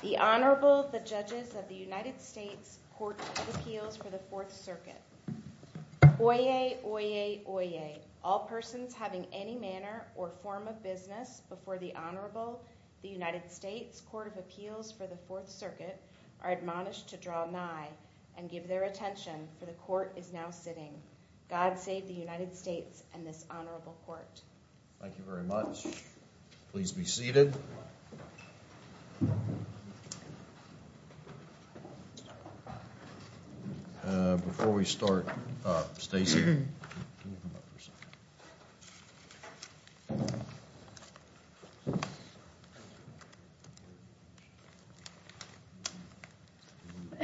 The Honorable, the Judges of the United States Court of Appeals for the Fourth Circuit. Oyez, oyez, oyez, all persons having any manner or form of business before the Honorable, the United States Court of Appeals for the Fourth Circuit are admonished to draw nigh and give their attention, for the Court is now sitting. God save the United States and this Honorable Court. Thank you very much. Please be seated. Before we start, Stacy, can you come up for a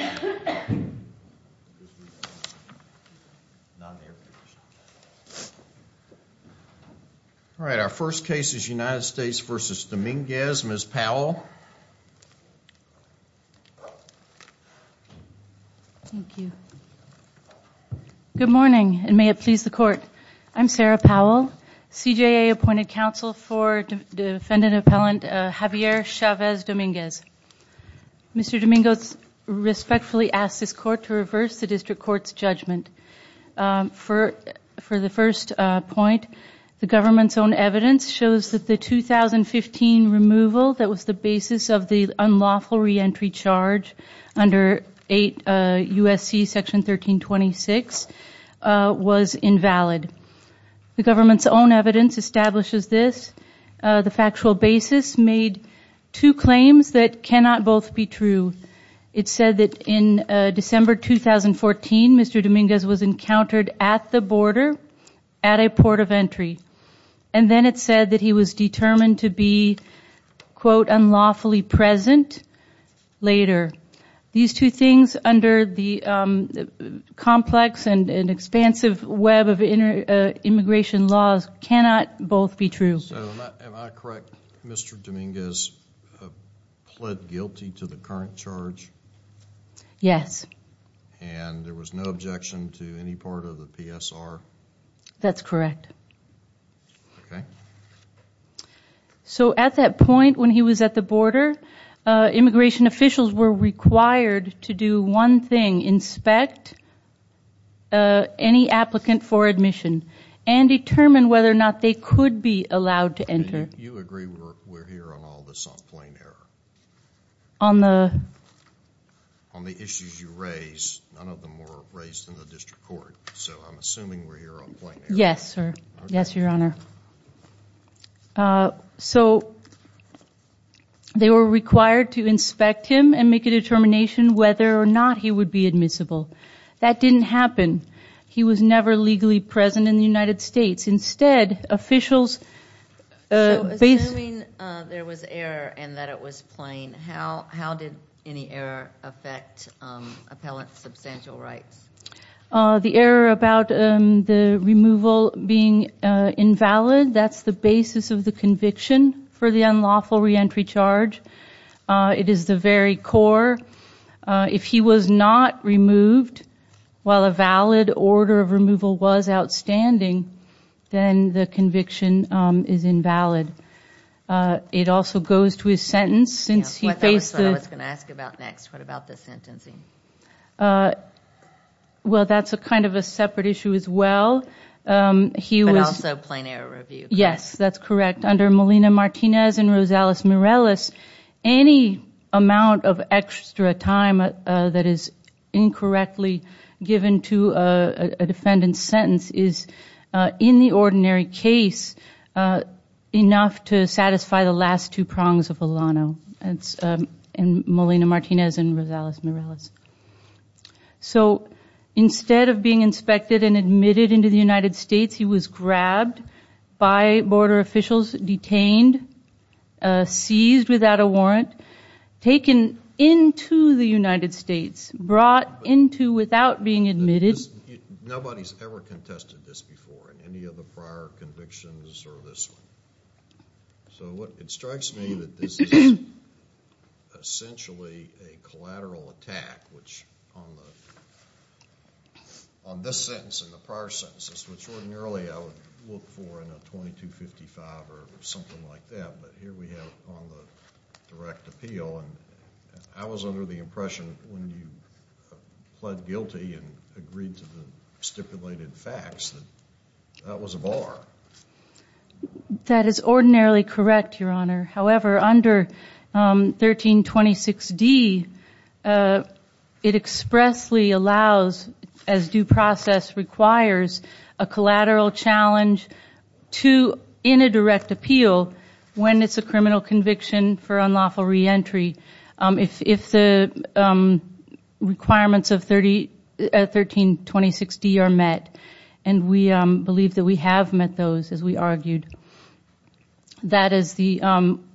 second? All right, our first case is United States v. Dominguez. Ms. Powell. Thank you. Good morning, and may it please the Court. I'm Sarah Powell, CJA appointed counsel for defendant appellant Javier Chavez Dominguez. Mr. Dominguez respectfully asks this Court to reverse the district court's judgment. For the first point, the government's own evidence shows that the 2015 removal that was the basis of the unlawful reentry charge under 8 U.S.C. section 1326 was invalid. The government's own evidence establishes this. The factual basis made two claims that cannot both be true. It said that in December 2014, Mr. Dominguez was encountered at the border at a port of entry. And then it said that he was determined to be, quote, unlawfully present later. These two things under the complex and expansive web of immigration laws cannot both be true. Am I correct, Mr. Dominguez pled guilty to the current charge? Yes. And there was no objection to any part of the PSR? That's correct. Okay. So at that point when he was at the border, immigration officials were required to do one thing, inspect any applicant for admission and determine whether or not they could be allowed to enter. You agree we're here on all this on plain error? On the? On the issues you raised, none of them were raised in the district court. So I'm assuming we're here on plain error. Yes, sir. Yes, Your Honor. So they were required to inspect him and make a determination whether or not he would be admissible. That didn't happen. He was never legally present in the United States. Instead, officials based- So assuming there was error and that it was plain, how did any error affect appellant's substantial rights? The error about the removal being invalid, that's the basis of the conviction for the unlawful reentry charge. It is the very core. If he was not removed while a valid order of removal was outstanding, then the conviction is invalid. It also goes to his sentence since he faced the- That's what I was going to ask about next. What about the sentencing? Well, that's kind of a separate issue as well. But also plain error review. Yes, that's correct. Under Molina-Martinez and Rosales-Morales, any amount of extra time that is incorrectly given to a defendant's sentence is, in the ordinary case, enough to satisfy the last two prongs of Alano and Molina-Martinez and Rosales-Morales. So instead of being inspected and admitted into the United States, he was grabbed by border officials, detained, seized without a warrant, taken into the United States, brought into without being admitted- Nobody's ever contested this before in any of the prior convictions or this one. So it strikes me that this is essentially a collateral attack, which on this sentence and the prior sentences, which ordinarily I would look for in a 2255 or something like that, but here we have it on the direct appeal. I was under the impression when you pled guilty and agreed to the stipulated facts that that was a bar. That is ordinarily correct, Your Honor. However, under 1326D, it expressly allows, as due process requires, a collateral challenge in a direct appeal when it's a criminal conviction for unlawful reentry. If the requirements of 1326D are met, and we believe that we have met those, as we argued, that is,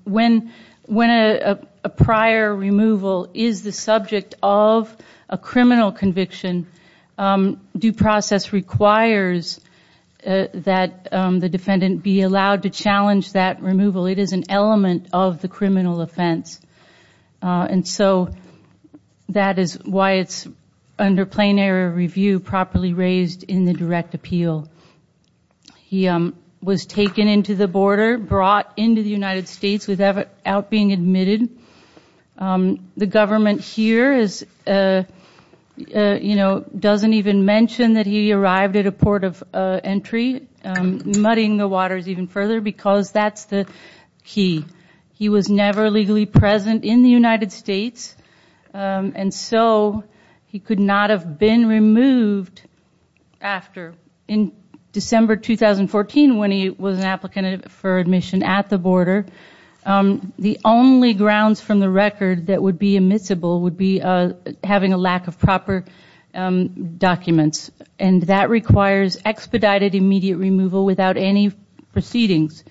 when a prior removal is the subject of a criminal conviction, due process requires that the defendant be allowed to challenge that removal. It is an element of the criminal offense. And so that is why it's, under plain error review, properly raised in the direct appeal. He was taken into the border, brought into the United States without being admitted. The government here doesn't even mention that he arrived at a port of entry, muddying the waters even further because that's the key. He was never legally present in the United States. And so he could not have been removed after. In December 2014, when he was an applicant for admission at the border, the only grounds from the record that would be admissible would be having a lack of proper documents. And that requires expedited immediate removal without any proceedings.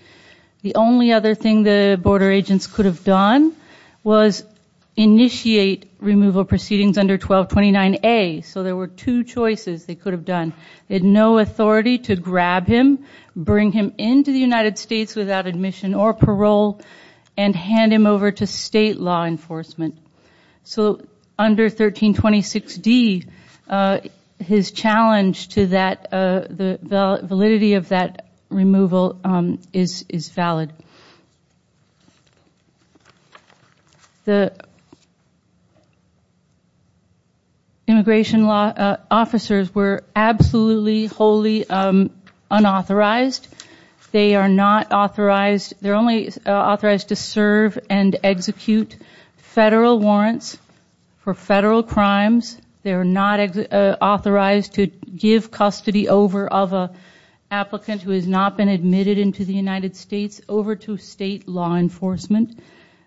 The only other thing the border agents could have done was initiate removal proceedings under 1229A. So there were two choices they could have done. They had no authority to grab him, bring him into the United States without admission or parole, and hand him over to state law enforcement. So under 1326D, his challenge to the validity of that removal is valid. The immigration officers were absolutely wholly unauthorized. They are not authorized. They're only authorized to serve and execute federal warrants for federal crimes. They are not authorized to give custody over of an applicant who has not been admitted into the United States over to state law enforcement.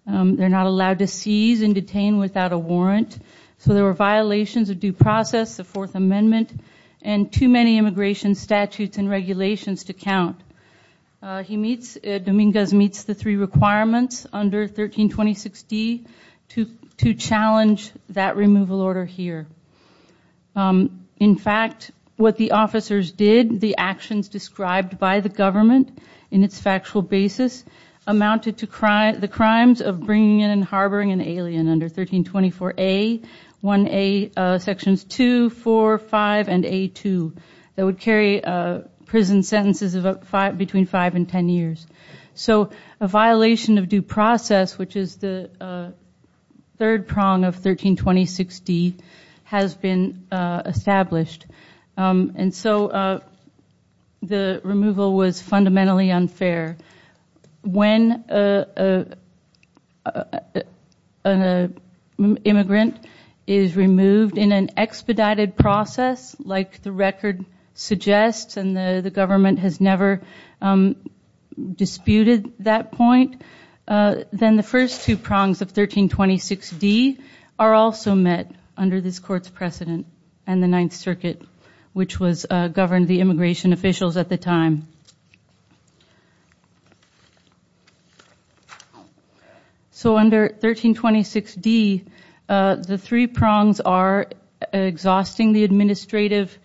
They're not allowed to seize and detain without a warrant. So there were violations of due process, the Fourth Amendment, and too many immigration statutes and regulations to count. Dominguez meets the three requirements under 1326D to challenge that removal order here. In fact, what the officers did, the actions described by the government in its factual basis, amounted to the crimes of bringing in and harboring an alien under 1324A, 1A Sections 2, 4, 5, and A2 that would carry prison sentences of between five and ten years. So a violation of due process, which is the third prong of 1326D, has been established. And so the removal was fundamentally unfair. When an immigrant is removed in an expedited process, like the record suggests, and the government has never disputed that point, then the first two prongs of 1326D are also met under this Court's precedent and the Ninth Circuit, which governed the immigration officials at the time. So under 1326D, the three prongs are exhausting the administrative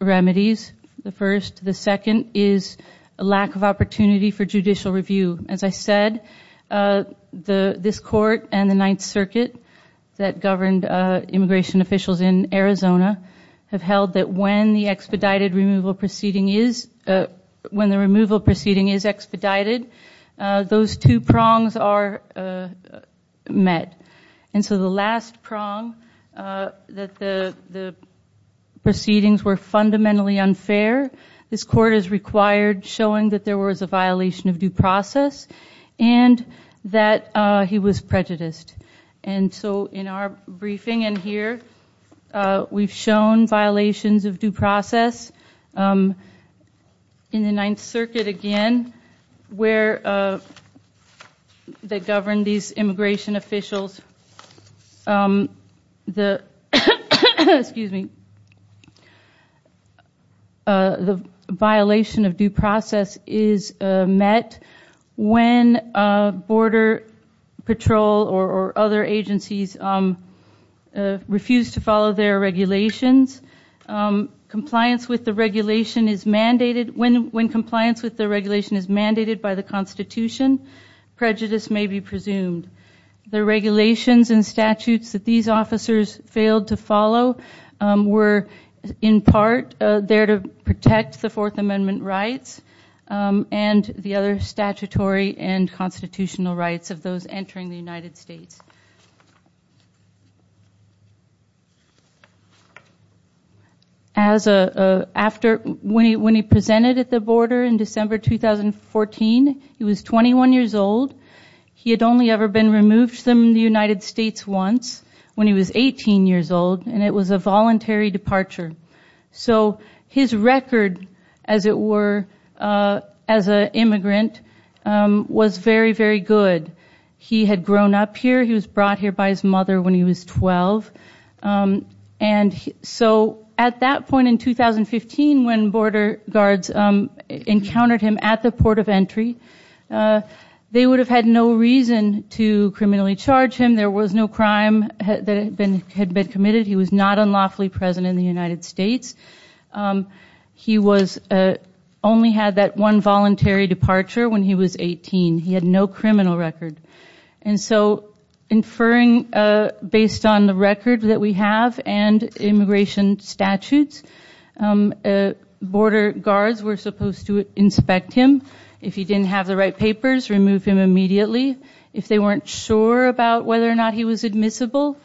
remedies, the first. The second is a lack of opportunity for judicial review. As I said, this Court and the Ninth Circuit that governed immigration officials in Arizona have held that when the removal proceeding is expedited, those two prongs are met. And so the last prong, that the proceedings were fundamentally unfair, this Court is required showing that there was a violation of due process and that he was prejudiced. And so in our briefing in here, we've shown violations of due process in the Ninth Circuit again, where they govern these immigration officials. The violation of due process is met when Border Patrol or other agencies refuse to follow their regulations. When compliance with the regulation is mandated by the Constitution, prejudice may be presumed. The regulations and statutes that these officers failed to follow were in part there to protect the Fourth Amendment rights and the other statutory and constitutional rights of those entering the United States. When he presented at the border in December 2014, he was 21 years old. He had only ever been removed from the United States once when he was 18 years old, and it was a voluntary departure. So his record, as it were, as an immigrant was very, very good. He had grown up here. He was brought here by his mother when he was 12. And so at that point in 2015, when border guards encountered him at the port of entry, they would have had no reason to criminally charge him. There was no crime that had been committed. He was not unlawfully present in the United States. He only had that one voluntary departure when he was 18. He had no criminal record. And so inferring based on the record that we have and immigration statutes, border guards were supposed to inspect him. If he didn't have the right papers, remove him immediately. If they weren't sure about whether or not he was admissible,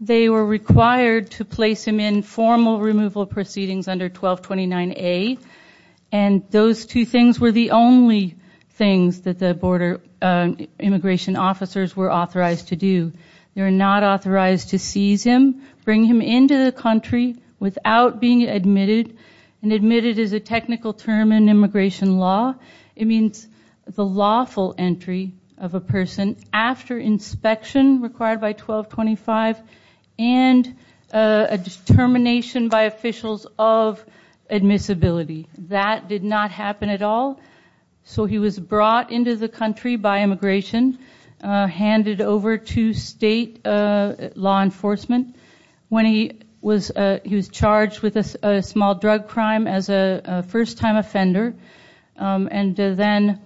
they were required to place him in formal removal proceedings under 1229A, and those two things were the only things that the border immigration officers were authorized to do. They were not authorized to seize him, bring him into the country without being admitted, and admitted is a technical term in immigration law. It means the lawful entry of a person after inspection required by 1225 and a determination by officials of admissibility. That did not happen at all. So he was brought into the country by immigration, handed over to state law enforcement. He was charged with a small drug crime as a first-time offender, and then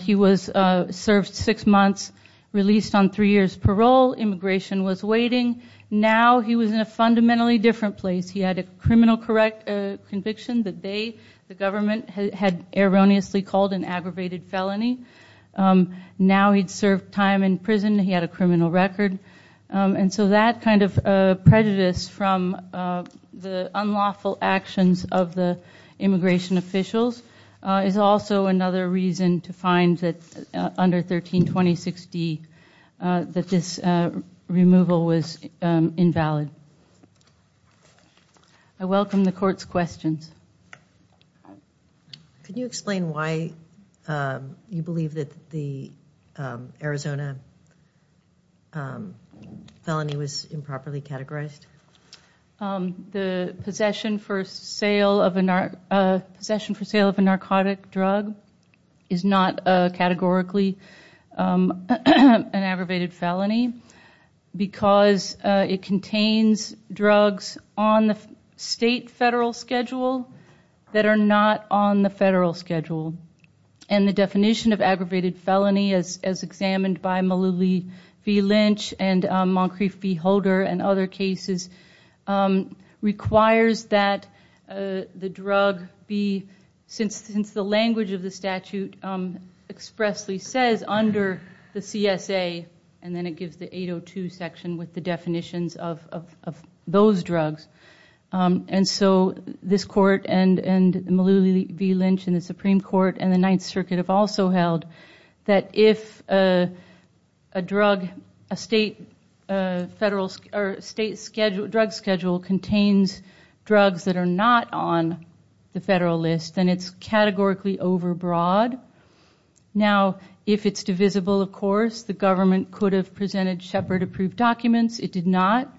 he was served six months, released on three years' parole. Immigration was waiting. Now he was in a fundamentally different place. He had a criminal conviction that they, the government, had erroneously called an aggravated felony. Now he'd served time in prison. He had a criminal record. And so that kind of prejudice from the unlawful actions of the immigration officials is also another reason to find that under 1326D that this removal was invalid. I welcome the court's questions. Can you explain why you believe that the Arizona felony was improperly categorized? The possession for sale of a narcotic drug is not categorically an aggravated felony because it contains drugs on the state federal schedule that are not on the federal schedule. And the definition of aggravated felony, as examined by Malou Lee v. Lynch and Moncrief v. Holder and other cases, requires that the drug be, since the language of the statute expressly says under the CSA and then it gives the 802 section with the definitions of those drugs. And so this court and Malou Lee v. Lynch and the Supreme Court and the Ninth Circuit have also held that if a state drug schedule contains drugs that are not on the federal list, then it's categorically overbroad. Now, if it's divisible, of course, the government could have presented Shepard approved documents. It did not.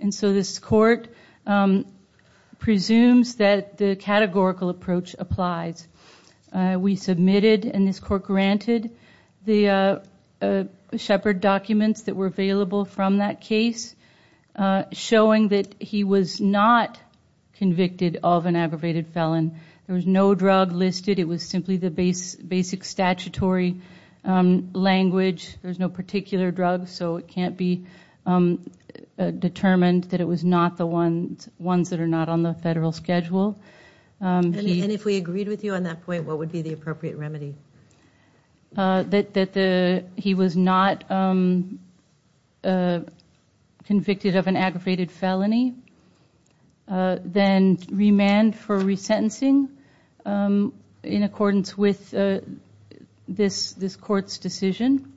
And so this court presumes that the categorical approach applies. We submitted and this court granted the Shepard documents that were available from that case showing that he was not convicted of an aggravated felon. There was no drug listed. It was simply the basic statutory language. There's no particular drug, so it can't be determined that it was not the ones that are not on the federal schedule. And if we agreed with you on that point, what would be the appropriate remedy? That he was not convicted of an aggravated felony. Then remand for resentencing in accordance with this court's decision.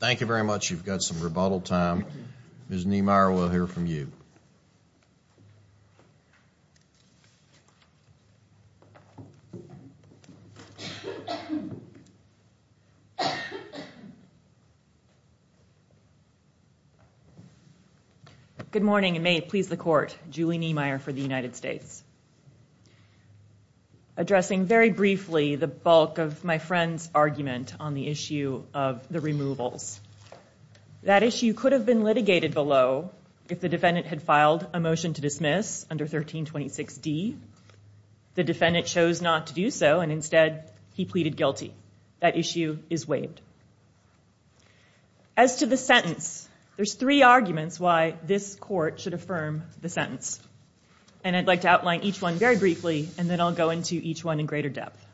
Thank you very much. You've got some rebuttal time. Ms. Niemeyer, we'll hear from you. Good morning and may it please the court. Julie Niemeyer for the United States. Addressing very briefly the bulk of my friend's argument on the issue of the removals. That issue could have been litigated below if the defendant had filed a motion to dismiss under 1326D. The defendant chose not to do so and instead he pleaded guilty. That issue is waived. As to the sentence, there's three arguments why this court should affirm the sentence. And I'd like to outline each one very briefly and then I'll go into each one in greater depth.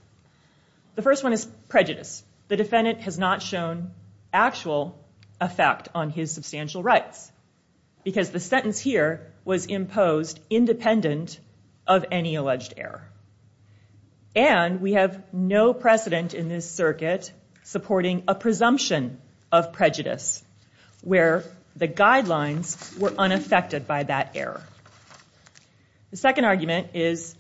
The first one is prejudice. The defendant has not shown actual effect on his substantial rights. Because the sentence here was imposed independent of any alleged error. And we have no precedent in this circuit supporting a presumption of prejudice. Where the guidelines were unaffected by that error. The second argument is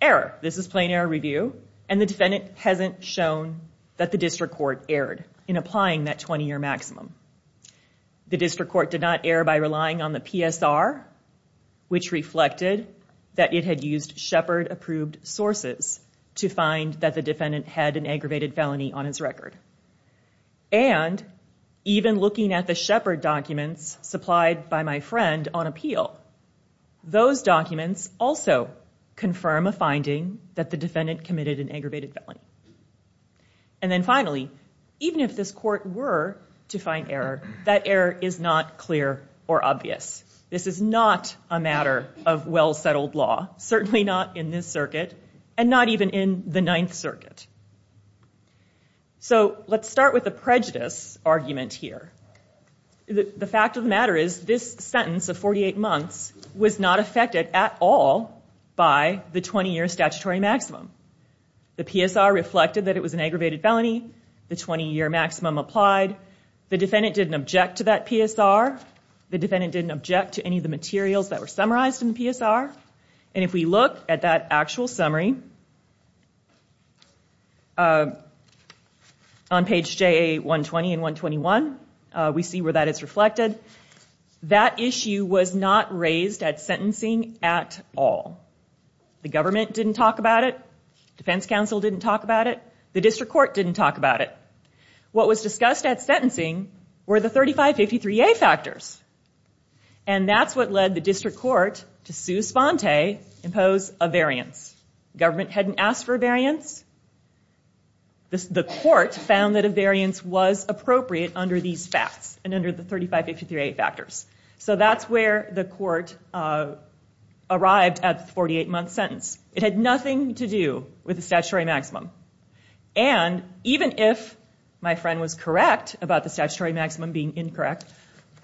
error. This is plain error review. And the defendant hasn't shown that the district court erred in applying that 20-year maximum. The district court did not err by relying on the PSR. Which reflected that it had used Shepard-approved sources to find that the defendant had an aggravated felony on his record. And even looking at the Shepard documents supplied by my friend on appeal. Those documents also confirm a finding that the defendant committed an aggravated felony. And then finally, even if this court were to find error, that error is not clear or obvious. This is not a matter of well-settled law. Certainly not in this circuit. And not even in the Ninth Circuit. So let's start with the prejudice argument here. The fact of the matter is this sentence of 48 months was not affected at all by the 20-year statutory maximum. The PSR reflected that it was an aggravated felony. The 20-year maximum applied. The defendant didn't object to that PSR. The defendant didn't object to any of the materials that were summarized in the PSR. And if we look at that actual summary on page JA 120 and 121, we see where that is reflected. That issue was not raised at sentencing at all. The government didn't talk about it. Defense counsel didn't talk about it. The district court didn't talk about it. What was discussed at sentencing were the 3553A factors. And that's what led the district court to sue Sponte, impose a variance. Government hadn't asked for a variance. The court found that a variance was appropriate under these facts and under the 3553A factors. So that's where the court arrived at the 48-month sentence. It had nothing to do with the statutory maximum. And even if my friend was correct about the statutory maximum being incorrect,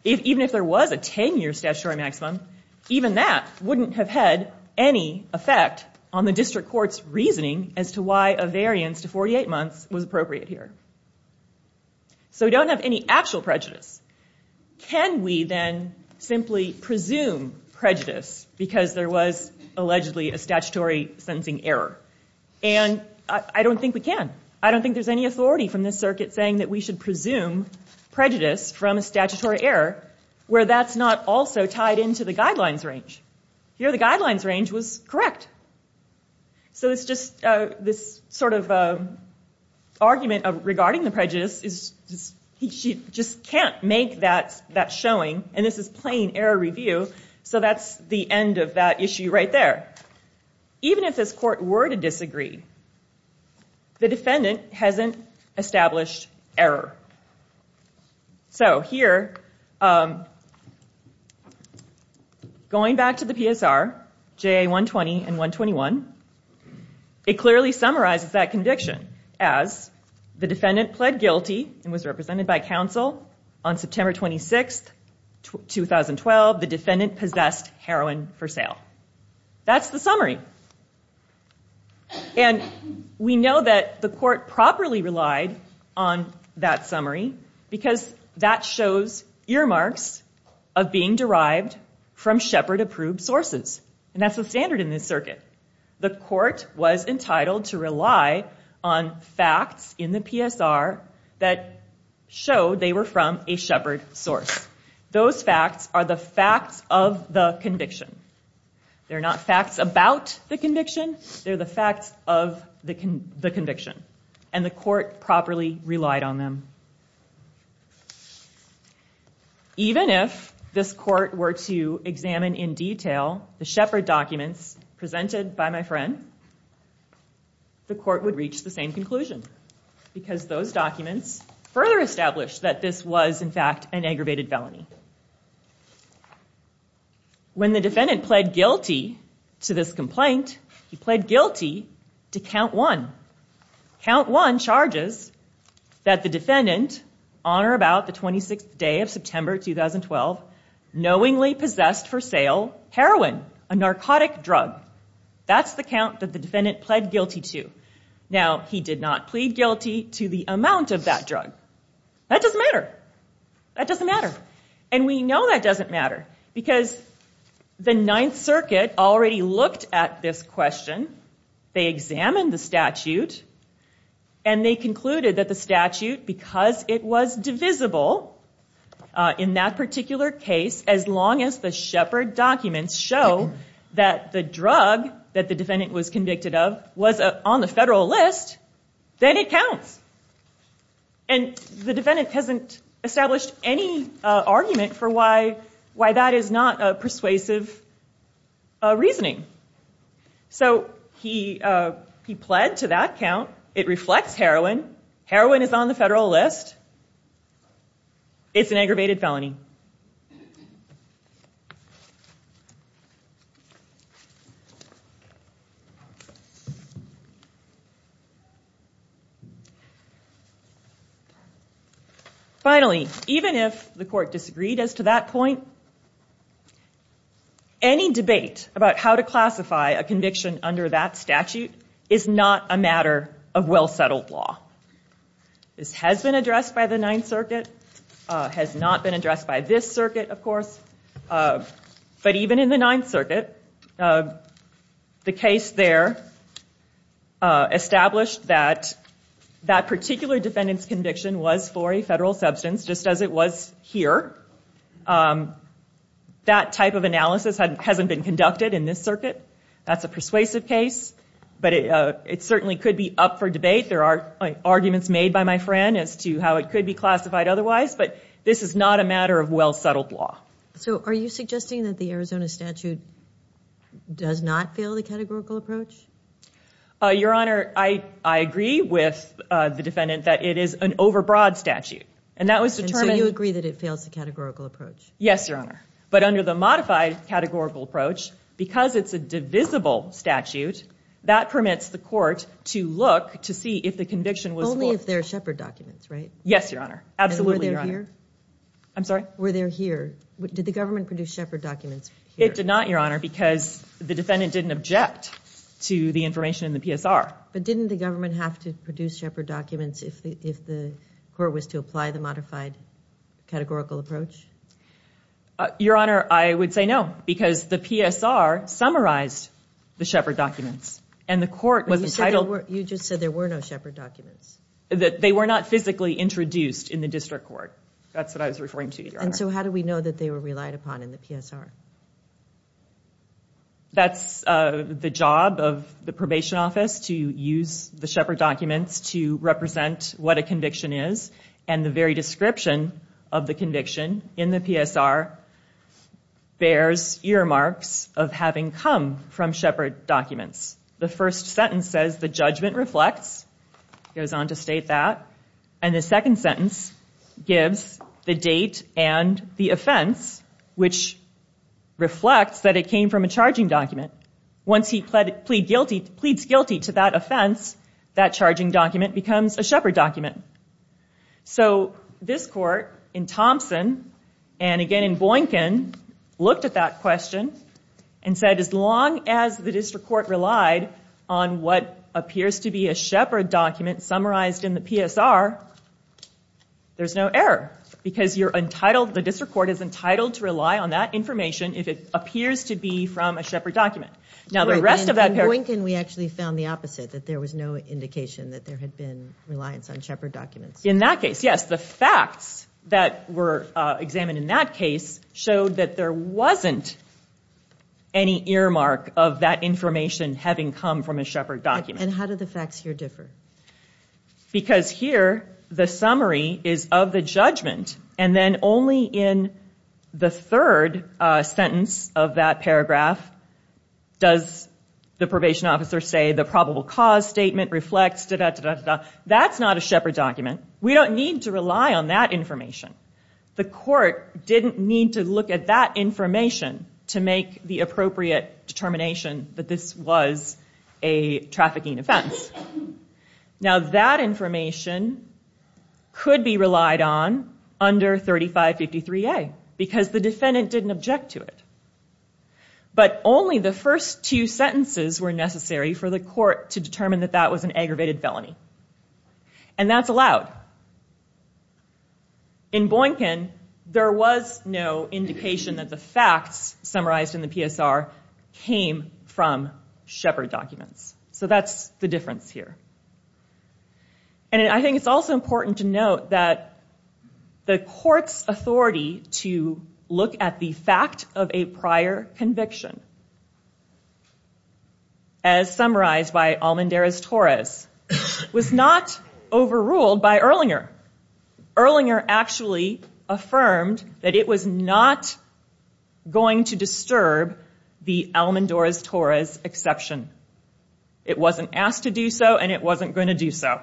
even if there was a 10-year statutory maximum, even that wouldn't have had any effect on the district court's reasoning as to why a variance to 48 months was appropriate here. So we don't have any actual prejudice. Can we then simply presume prejudice because there was allegedly a statutory sentencing error? And I don't think we can. I don't think there's any authority from this circuit saying that we should presume prejudice from a statutory error where that's not also tied into the guidelines range. Here the guidelines range was correct. So it's just this sort of argument regarding the prejudice. He just can't make that showing. And this is plain error review. So that's the end of that issue right there. Even if this court were to disagree, the defendant hasn't established error. So here, going back to the PSR, JA 120 and 121, it clearly summarizes that conviction as, the defendant pled guilty and was represented by counsel on September 26, 2012. The defendant possessed heroin for sale. That's the summary. And we know that the court properly relied on that summary because that shows earmarks of being derived from Shepard-approved sources. And that's the standard in this circuit. The court was entitled to rely on facts in the PSR that showed they were from a Shepard source. Those facts are the facts of the conviction. They're not facts about the conviction. They're the facts of the conviction. And the court properly relied on them. Even if this court were to examine in detail the Shepard documents presented by my friend, the court would reach the same conclusion because those documents further establish that this was, in fact, an aggravated felony. When the defendant pled guilty to this complaint, he pled guilty to count one. Count one charges that the defendant, on or about the 26th day of September, 2012, knowingly possessed for sale heroin, a narcotic drug. That's the count that the defendant pled guilty to. Now, he did not plead guilty to the amount of that drug. That doesn't matter. That doesn't matter. And we know that doesn't matter because the Ninth Circuit already looked at this question. They examined the statute. And they concluded that the statute, because it was divisible in that particular case, as long as the Shepard documents show that the drug that the defendant was convicted of was on the federal list, then it counts. And the defendant hasn't established any argument for why that is not a persuasive reasoning. So he pled to that count. It reflects heroin. Heroin is on the federal list. It's an aggravated felony. Finally, even if the court disagreed as to that point, any debate about how to classify a conviction under that statute is not a matter of well-settled law. This has been addressed by the Ninth Circuit. It has not been addressed by this circuit, of course. But even in the Ninth Circuit, the case there established that that particular defendant's conviction was for a federal substance, just as it was here. That type of analysis hasn't been conducted in this circuit. That's a persuasive case. But it certainly could be up for debate. There are arguments made by my friend as to how it could be classified otherwise. But this is not a matter of well-settled law. So are you suggesting that the Arizona statute does not fail the categorical approach? Your Honor, I agree with the defendant that it is an overbroad statute. And so you agree that it fails the categorical approach? Yes, Your Honor. But under the modified categorical approach, because it's a divisible statute, that permits the court to look to see if the conviction was for... Only if they're Shepard documents, right? Yes, Your Honor. Absolutely, Your Honor. And were they here? Did the government produce Shepard documents here? It did not, Your Honor, because the defendant didn't object to the information in the PSR. But didn't the government have to produce Shepard documents if the court was to apply the modified categorical approach? Your Honor, I would say no, because the PSR summarized the Shepard documents, and the court was entitled... But you just said there were no Shepard documents. They were not physically introduced in the district court. That's what I was referring to, Your Honor. So how do we know that they were relied upon in the PSR? That's the job of the probation office, to use the Shepard documents to represent what a conviction is, and the very description of the conviction in the PSR bears earmarks of having come from Shepard documents. The first sentence says the judgment reflects, goes on to state that, and the second sentence gives the date and the offense, which reflects that it came from a charging document. Once he pleads guilty to that offense, that charging document becomes a Shepard document. So this court in Thompson, and again in Boynkin, looked at that question and said, as long as the district court relied on what appears to be a Shepard document summarized in the PSR, there's no error, because the district court is entitled to rely on that information if it appears to be from a Shepard document. In Boynkin, we actually found the opposite, that there was no indication that there had been reliance on Shepard documents. In that case, yes. The facts that were examined in that case showed that there wasn't any earmark of that information having come from a Shepard document. And how do the facts here differ? Because here, the summary is of the judgment, and then only in the third sentence of that paragraph does the probation officer say the probable cause statement reflects, da-da-da-da-da. That's not a Shepard document. We don't need to rely on that information. The court didn't need to look at that information to make the appropriate determination that this was a trafficking offense. Now, that information could be relied on under 3553A, because the defendant didn't object to it. But only the first two sentences were necessary for the court to determine that that was an aggravated felony. And that's allowed. In Boynkin, there was no indication that the facts summarized in the PSR came from Shepard documents. So that's the difference here. And I think it's also important to note that the court's authority to look at the fact of a prior conviction, as summarized by Almendarez-Torres, was not overruled by Erlinger. Erlinger actually affirmed that it was not going to disturb the Almendarez-Torres exception. It wasn't asked to do so, and it wasn't going to do so.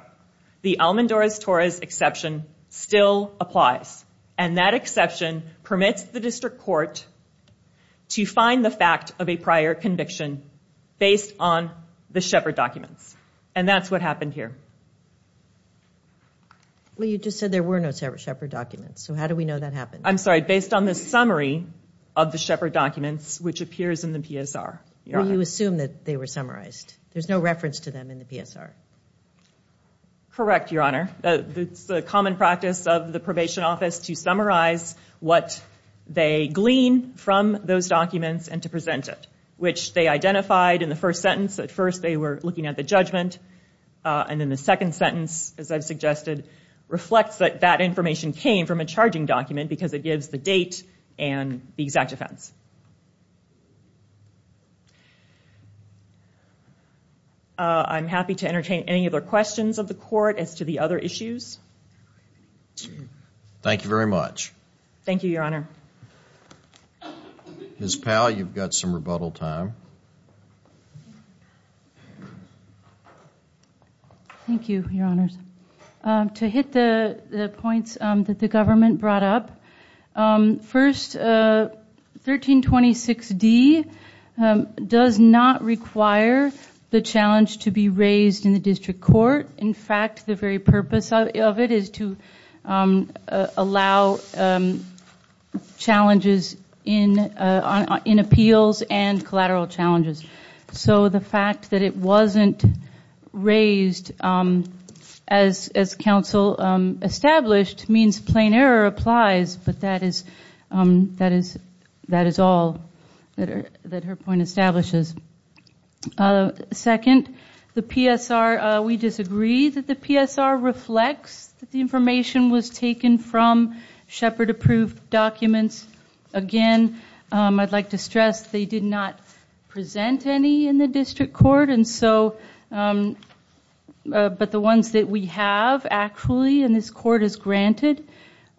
The Almendarez-Torres exception still applies. And that exception permits the district court to find the fact of a prior conviction based on the Shepard documents. And that's what happened here. Well, you just said there were no Shepard documents. So how do we know that happened? I'm sorry, based on the summary of the Shepard documents, which appears in the PSR. Well, you assume that they were summarized. There's no reference to them in the PSR. Correct, Your Honor. It's the common practice of the probation office to summarize what they glean from those documents and to present it, which they identified in the first sentence. At first, they were looking at the judgment. And then the second sentence, as I've suggested, reflects that that information came from a charging document because it gives the date and the exact offense. I'm happy to entertain any other questions of the court as to the other issues. Thank you very much. Thank you, Your Honor. Ms. Powell, you've got some rebuttal time. Thank you, Your Honors. To hit the points that the government brought up, first, 1326D does not require the challenge to be raised in the district court. In fact, the very purpose of it is to allow challenges in appeals and collateral challenges. So the fact that it wasn't raised, as counsel established, means plain error applies. But that is all that her point establishes. Second, we disagree that the PSR reflects that the information was taken from Shepard-approved documents. Again, I'd like to stress they did not present any in the district court. But the ones that we have actually in this court is granted.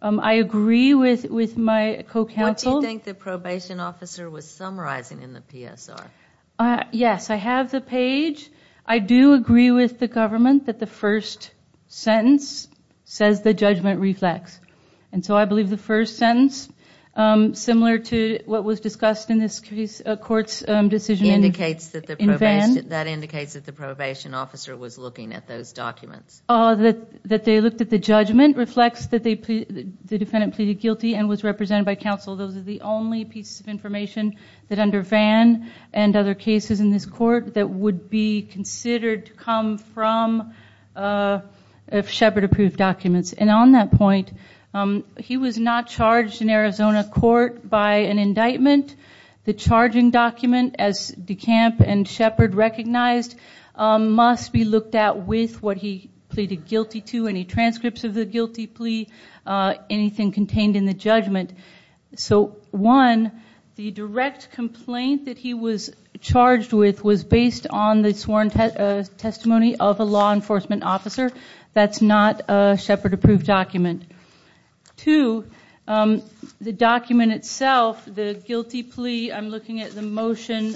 I agree with my co-counsel. What do you think the probation officer was summarizing in the PSR? Yes, I have the page. I do agree with the government that the first sentence says the judgment reflects. I believe the first sentence, similar to what was discussed in this court's decision in Vann. That indicates that the probation officer was looking at those documents. That they looked at the judgment reflects that the defendant pleaded guilty and was represented by counsel. Those are the only pieces of information that under Vann and other cases in this court that would be considered to come from Shepard-approved documents. On that point, he was not charged in Arizona court by an indictment. The charging document, as DeCamp and Shepard recognized, must be looked at with what he pleaded guilty to, any transcripts of the guilty plea, anything contained in the judgment. One, the direct complaint that he was charged with was based on the sworn testimony of a law enforcement officer. That's not a Shepard-approved document. Two, the document itself, the guilty plea, I'm looking at the motion,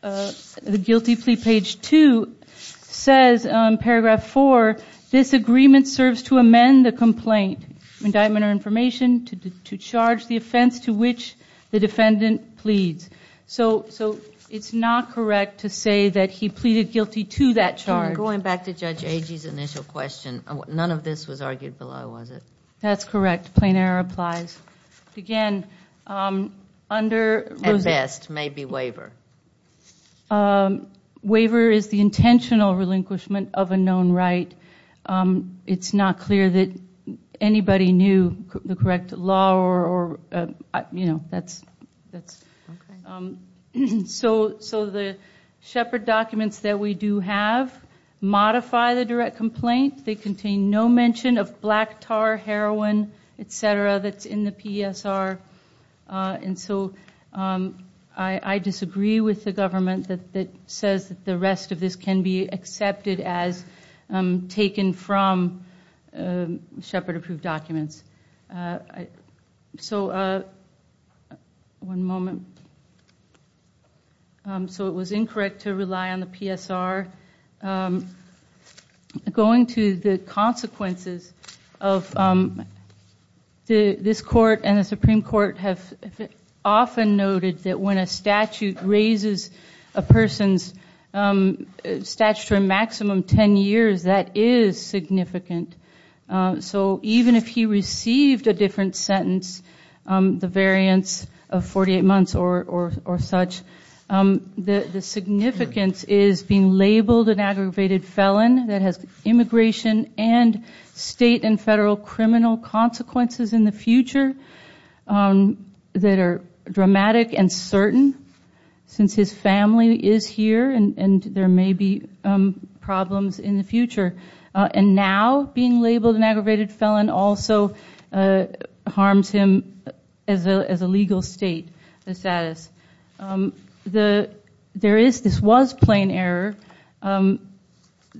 the guilty plea page two says, paragraph four, this agreement serves to amend the complaint, indictment or information, to charge the offense to which the defendant pleads. So it's not correct to say that he pleaded guilty to that charge. Going back to Judge Agee's initial question, none of this was argued below, was it? That's correct. Plain error applies. Again, under... At best, maybe waiver. Waiver is the intentional relinquishment of a known right. It's not clear that anybody knew the correct law or, you know, that's... So the Shepard documents that we do have modify the direct complaint. They contain no mention of black tar, heroin, et cetera, that's in the PSR. And so I disagree with the government that says that the rest of this can be accepted as taken from Shepard-approved documents. So... One moment. So it was incorrect to rely on the PSR. Going to the consequences of... This court and the Supreme Court have often noted that when a statute raises a person's statutory maximum ten years, that is significant. So even if he received a different sentence, the variance of 48 months or such, the significance is being labeled an aggravated felon that has immigration and state and federal criminal consequences in the future that are dramatic and certain, since his family is here and there may be problems in the future. And now being labeled an aggravated felon also harms him as a legal state, the status. There is... this was plain error.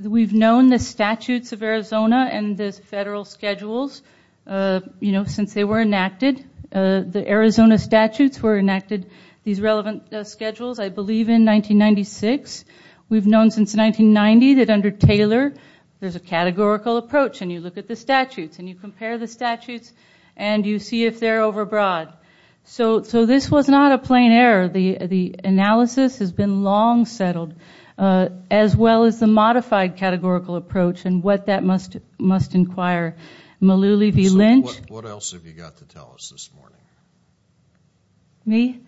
We've known the statutes of Arizona and the federal schedules, you know, since they were enacted. The Arizona statutes were enacted, these relevant schedules, I believe in 1996. We've known since 1990 that under Taylor there's a categorical approach, and you look at the statutes and you compare the statutes and you see if they're overbroad. So this was not a plain error. The analysis has been long settled, as well as the modified categorical approach and what that must inquire. Malouli v. Lynch... So what else have you got to tell us this morning? Me?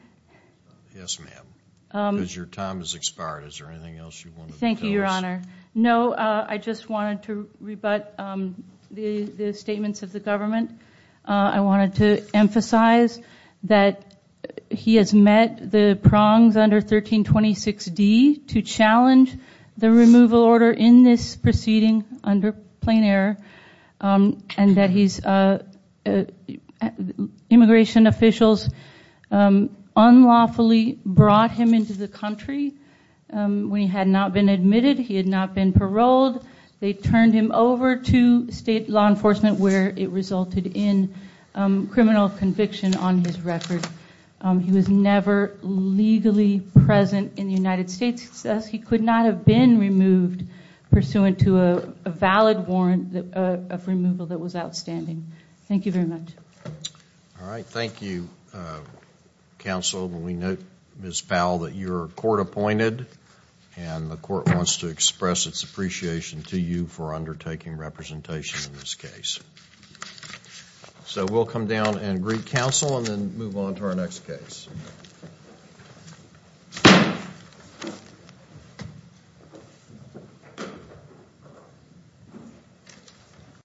Yes, ma'am. Because your time has expired. Is there anything else you wanted to tell us? No, I just wanted to rebut the statements of the government. I wanted to emphasize that he has met the prongs under 1326D to challenge the removal order in this proceeding under plain error and that immigration officials unlawfully brought him into the country. He had not been admitted. He had not been paroled. They turned him over to state law enforcement where it resulted in criminal conviction on his record. He was never legally present in the United States. He could not have been removed pursuant to a valid warrant of removal that was outstanding. Thank you very much. All right. Thank you, counsel. We note, Ms. Powell, that you're court-appointed and the court wants to express its appreciation to you for undertaking representation in this case. So we'll come down and greet counsel and then move on to our next case. Thank you.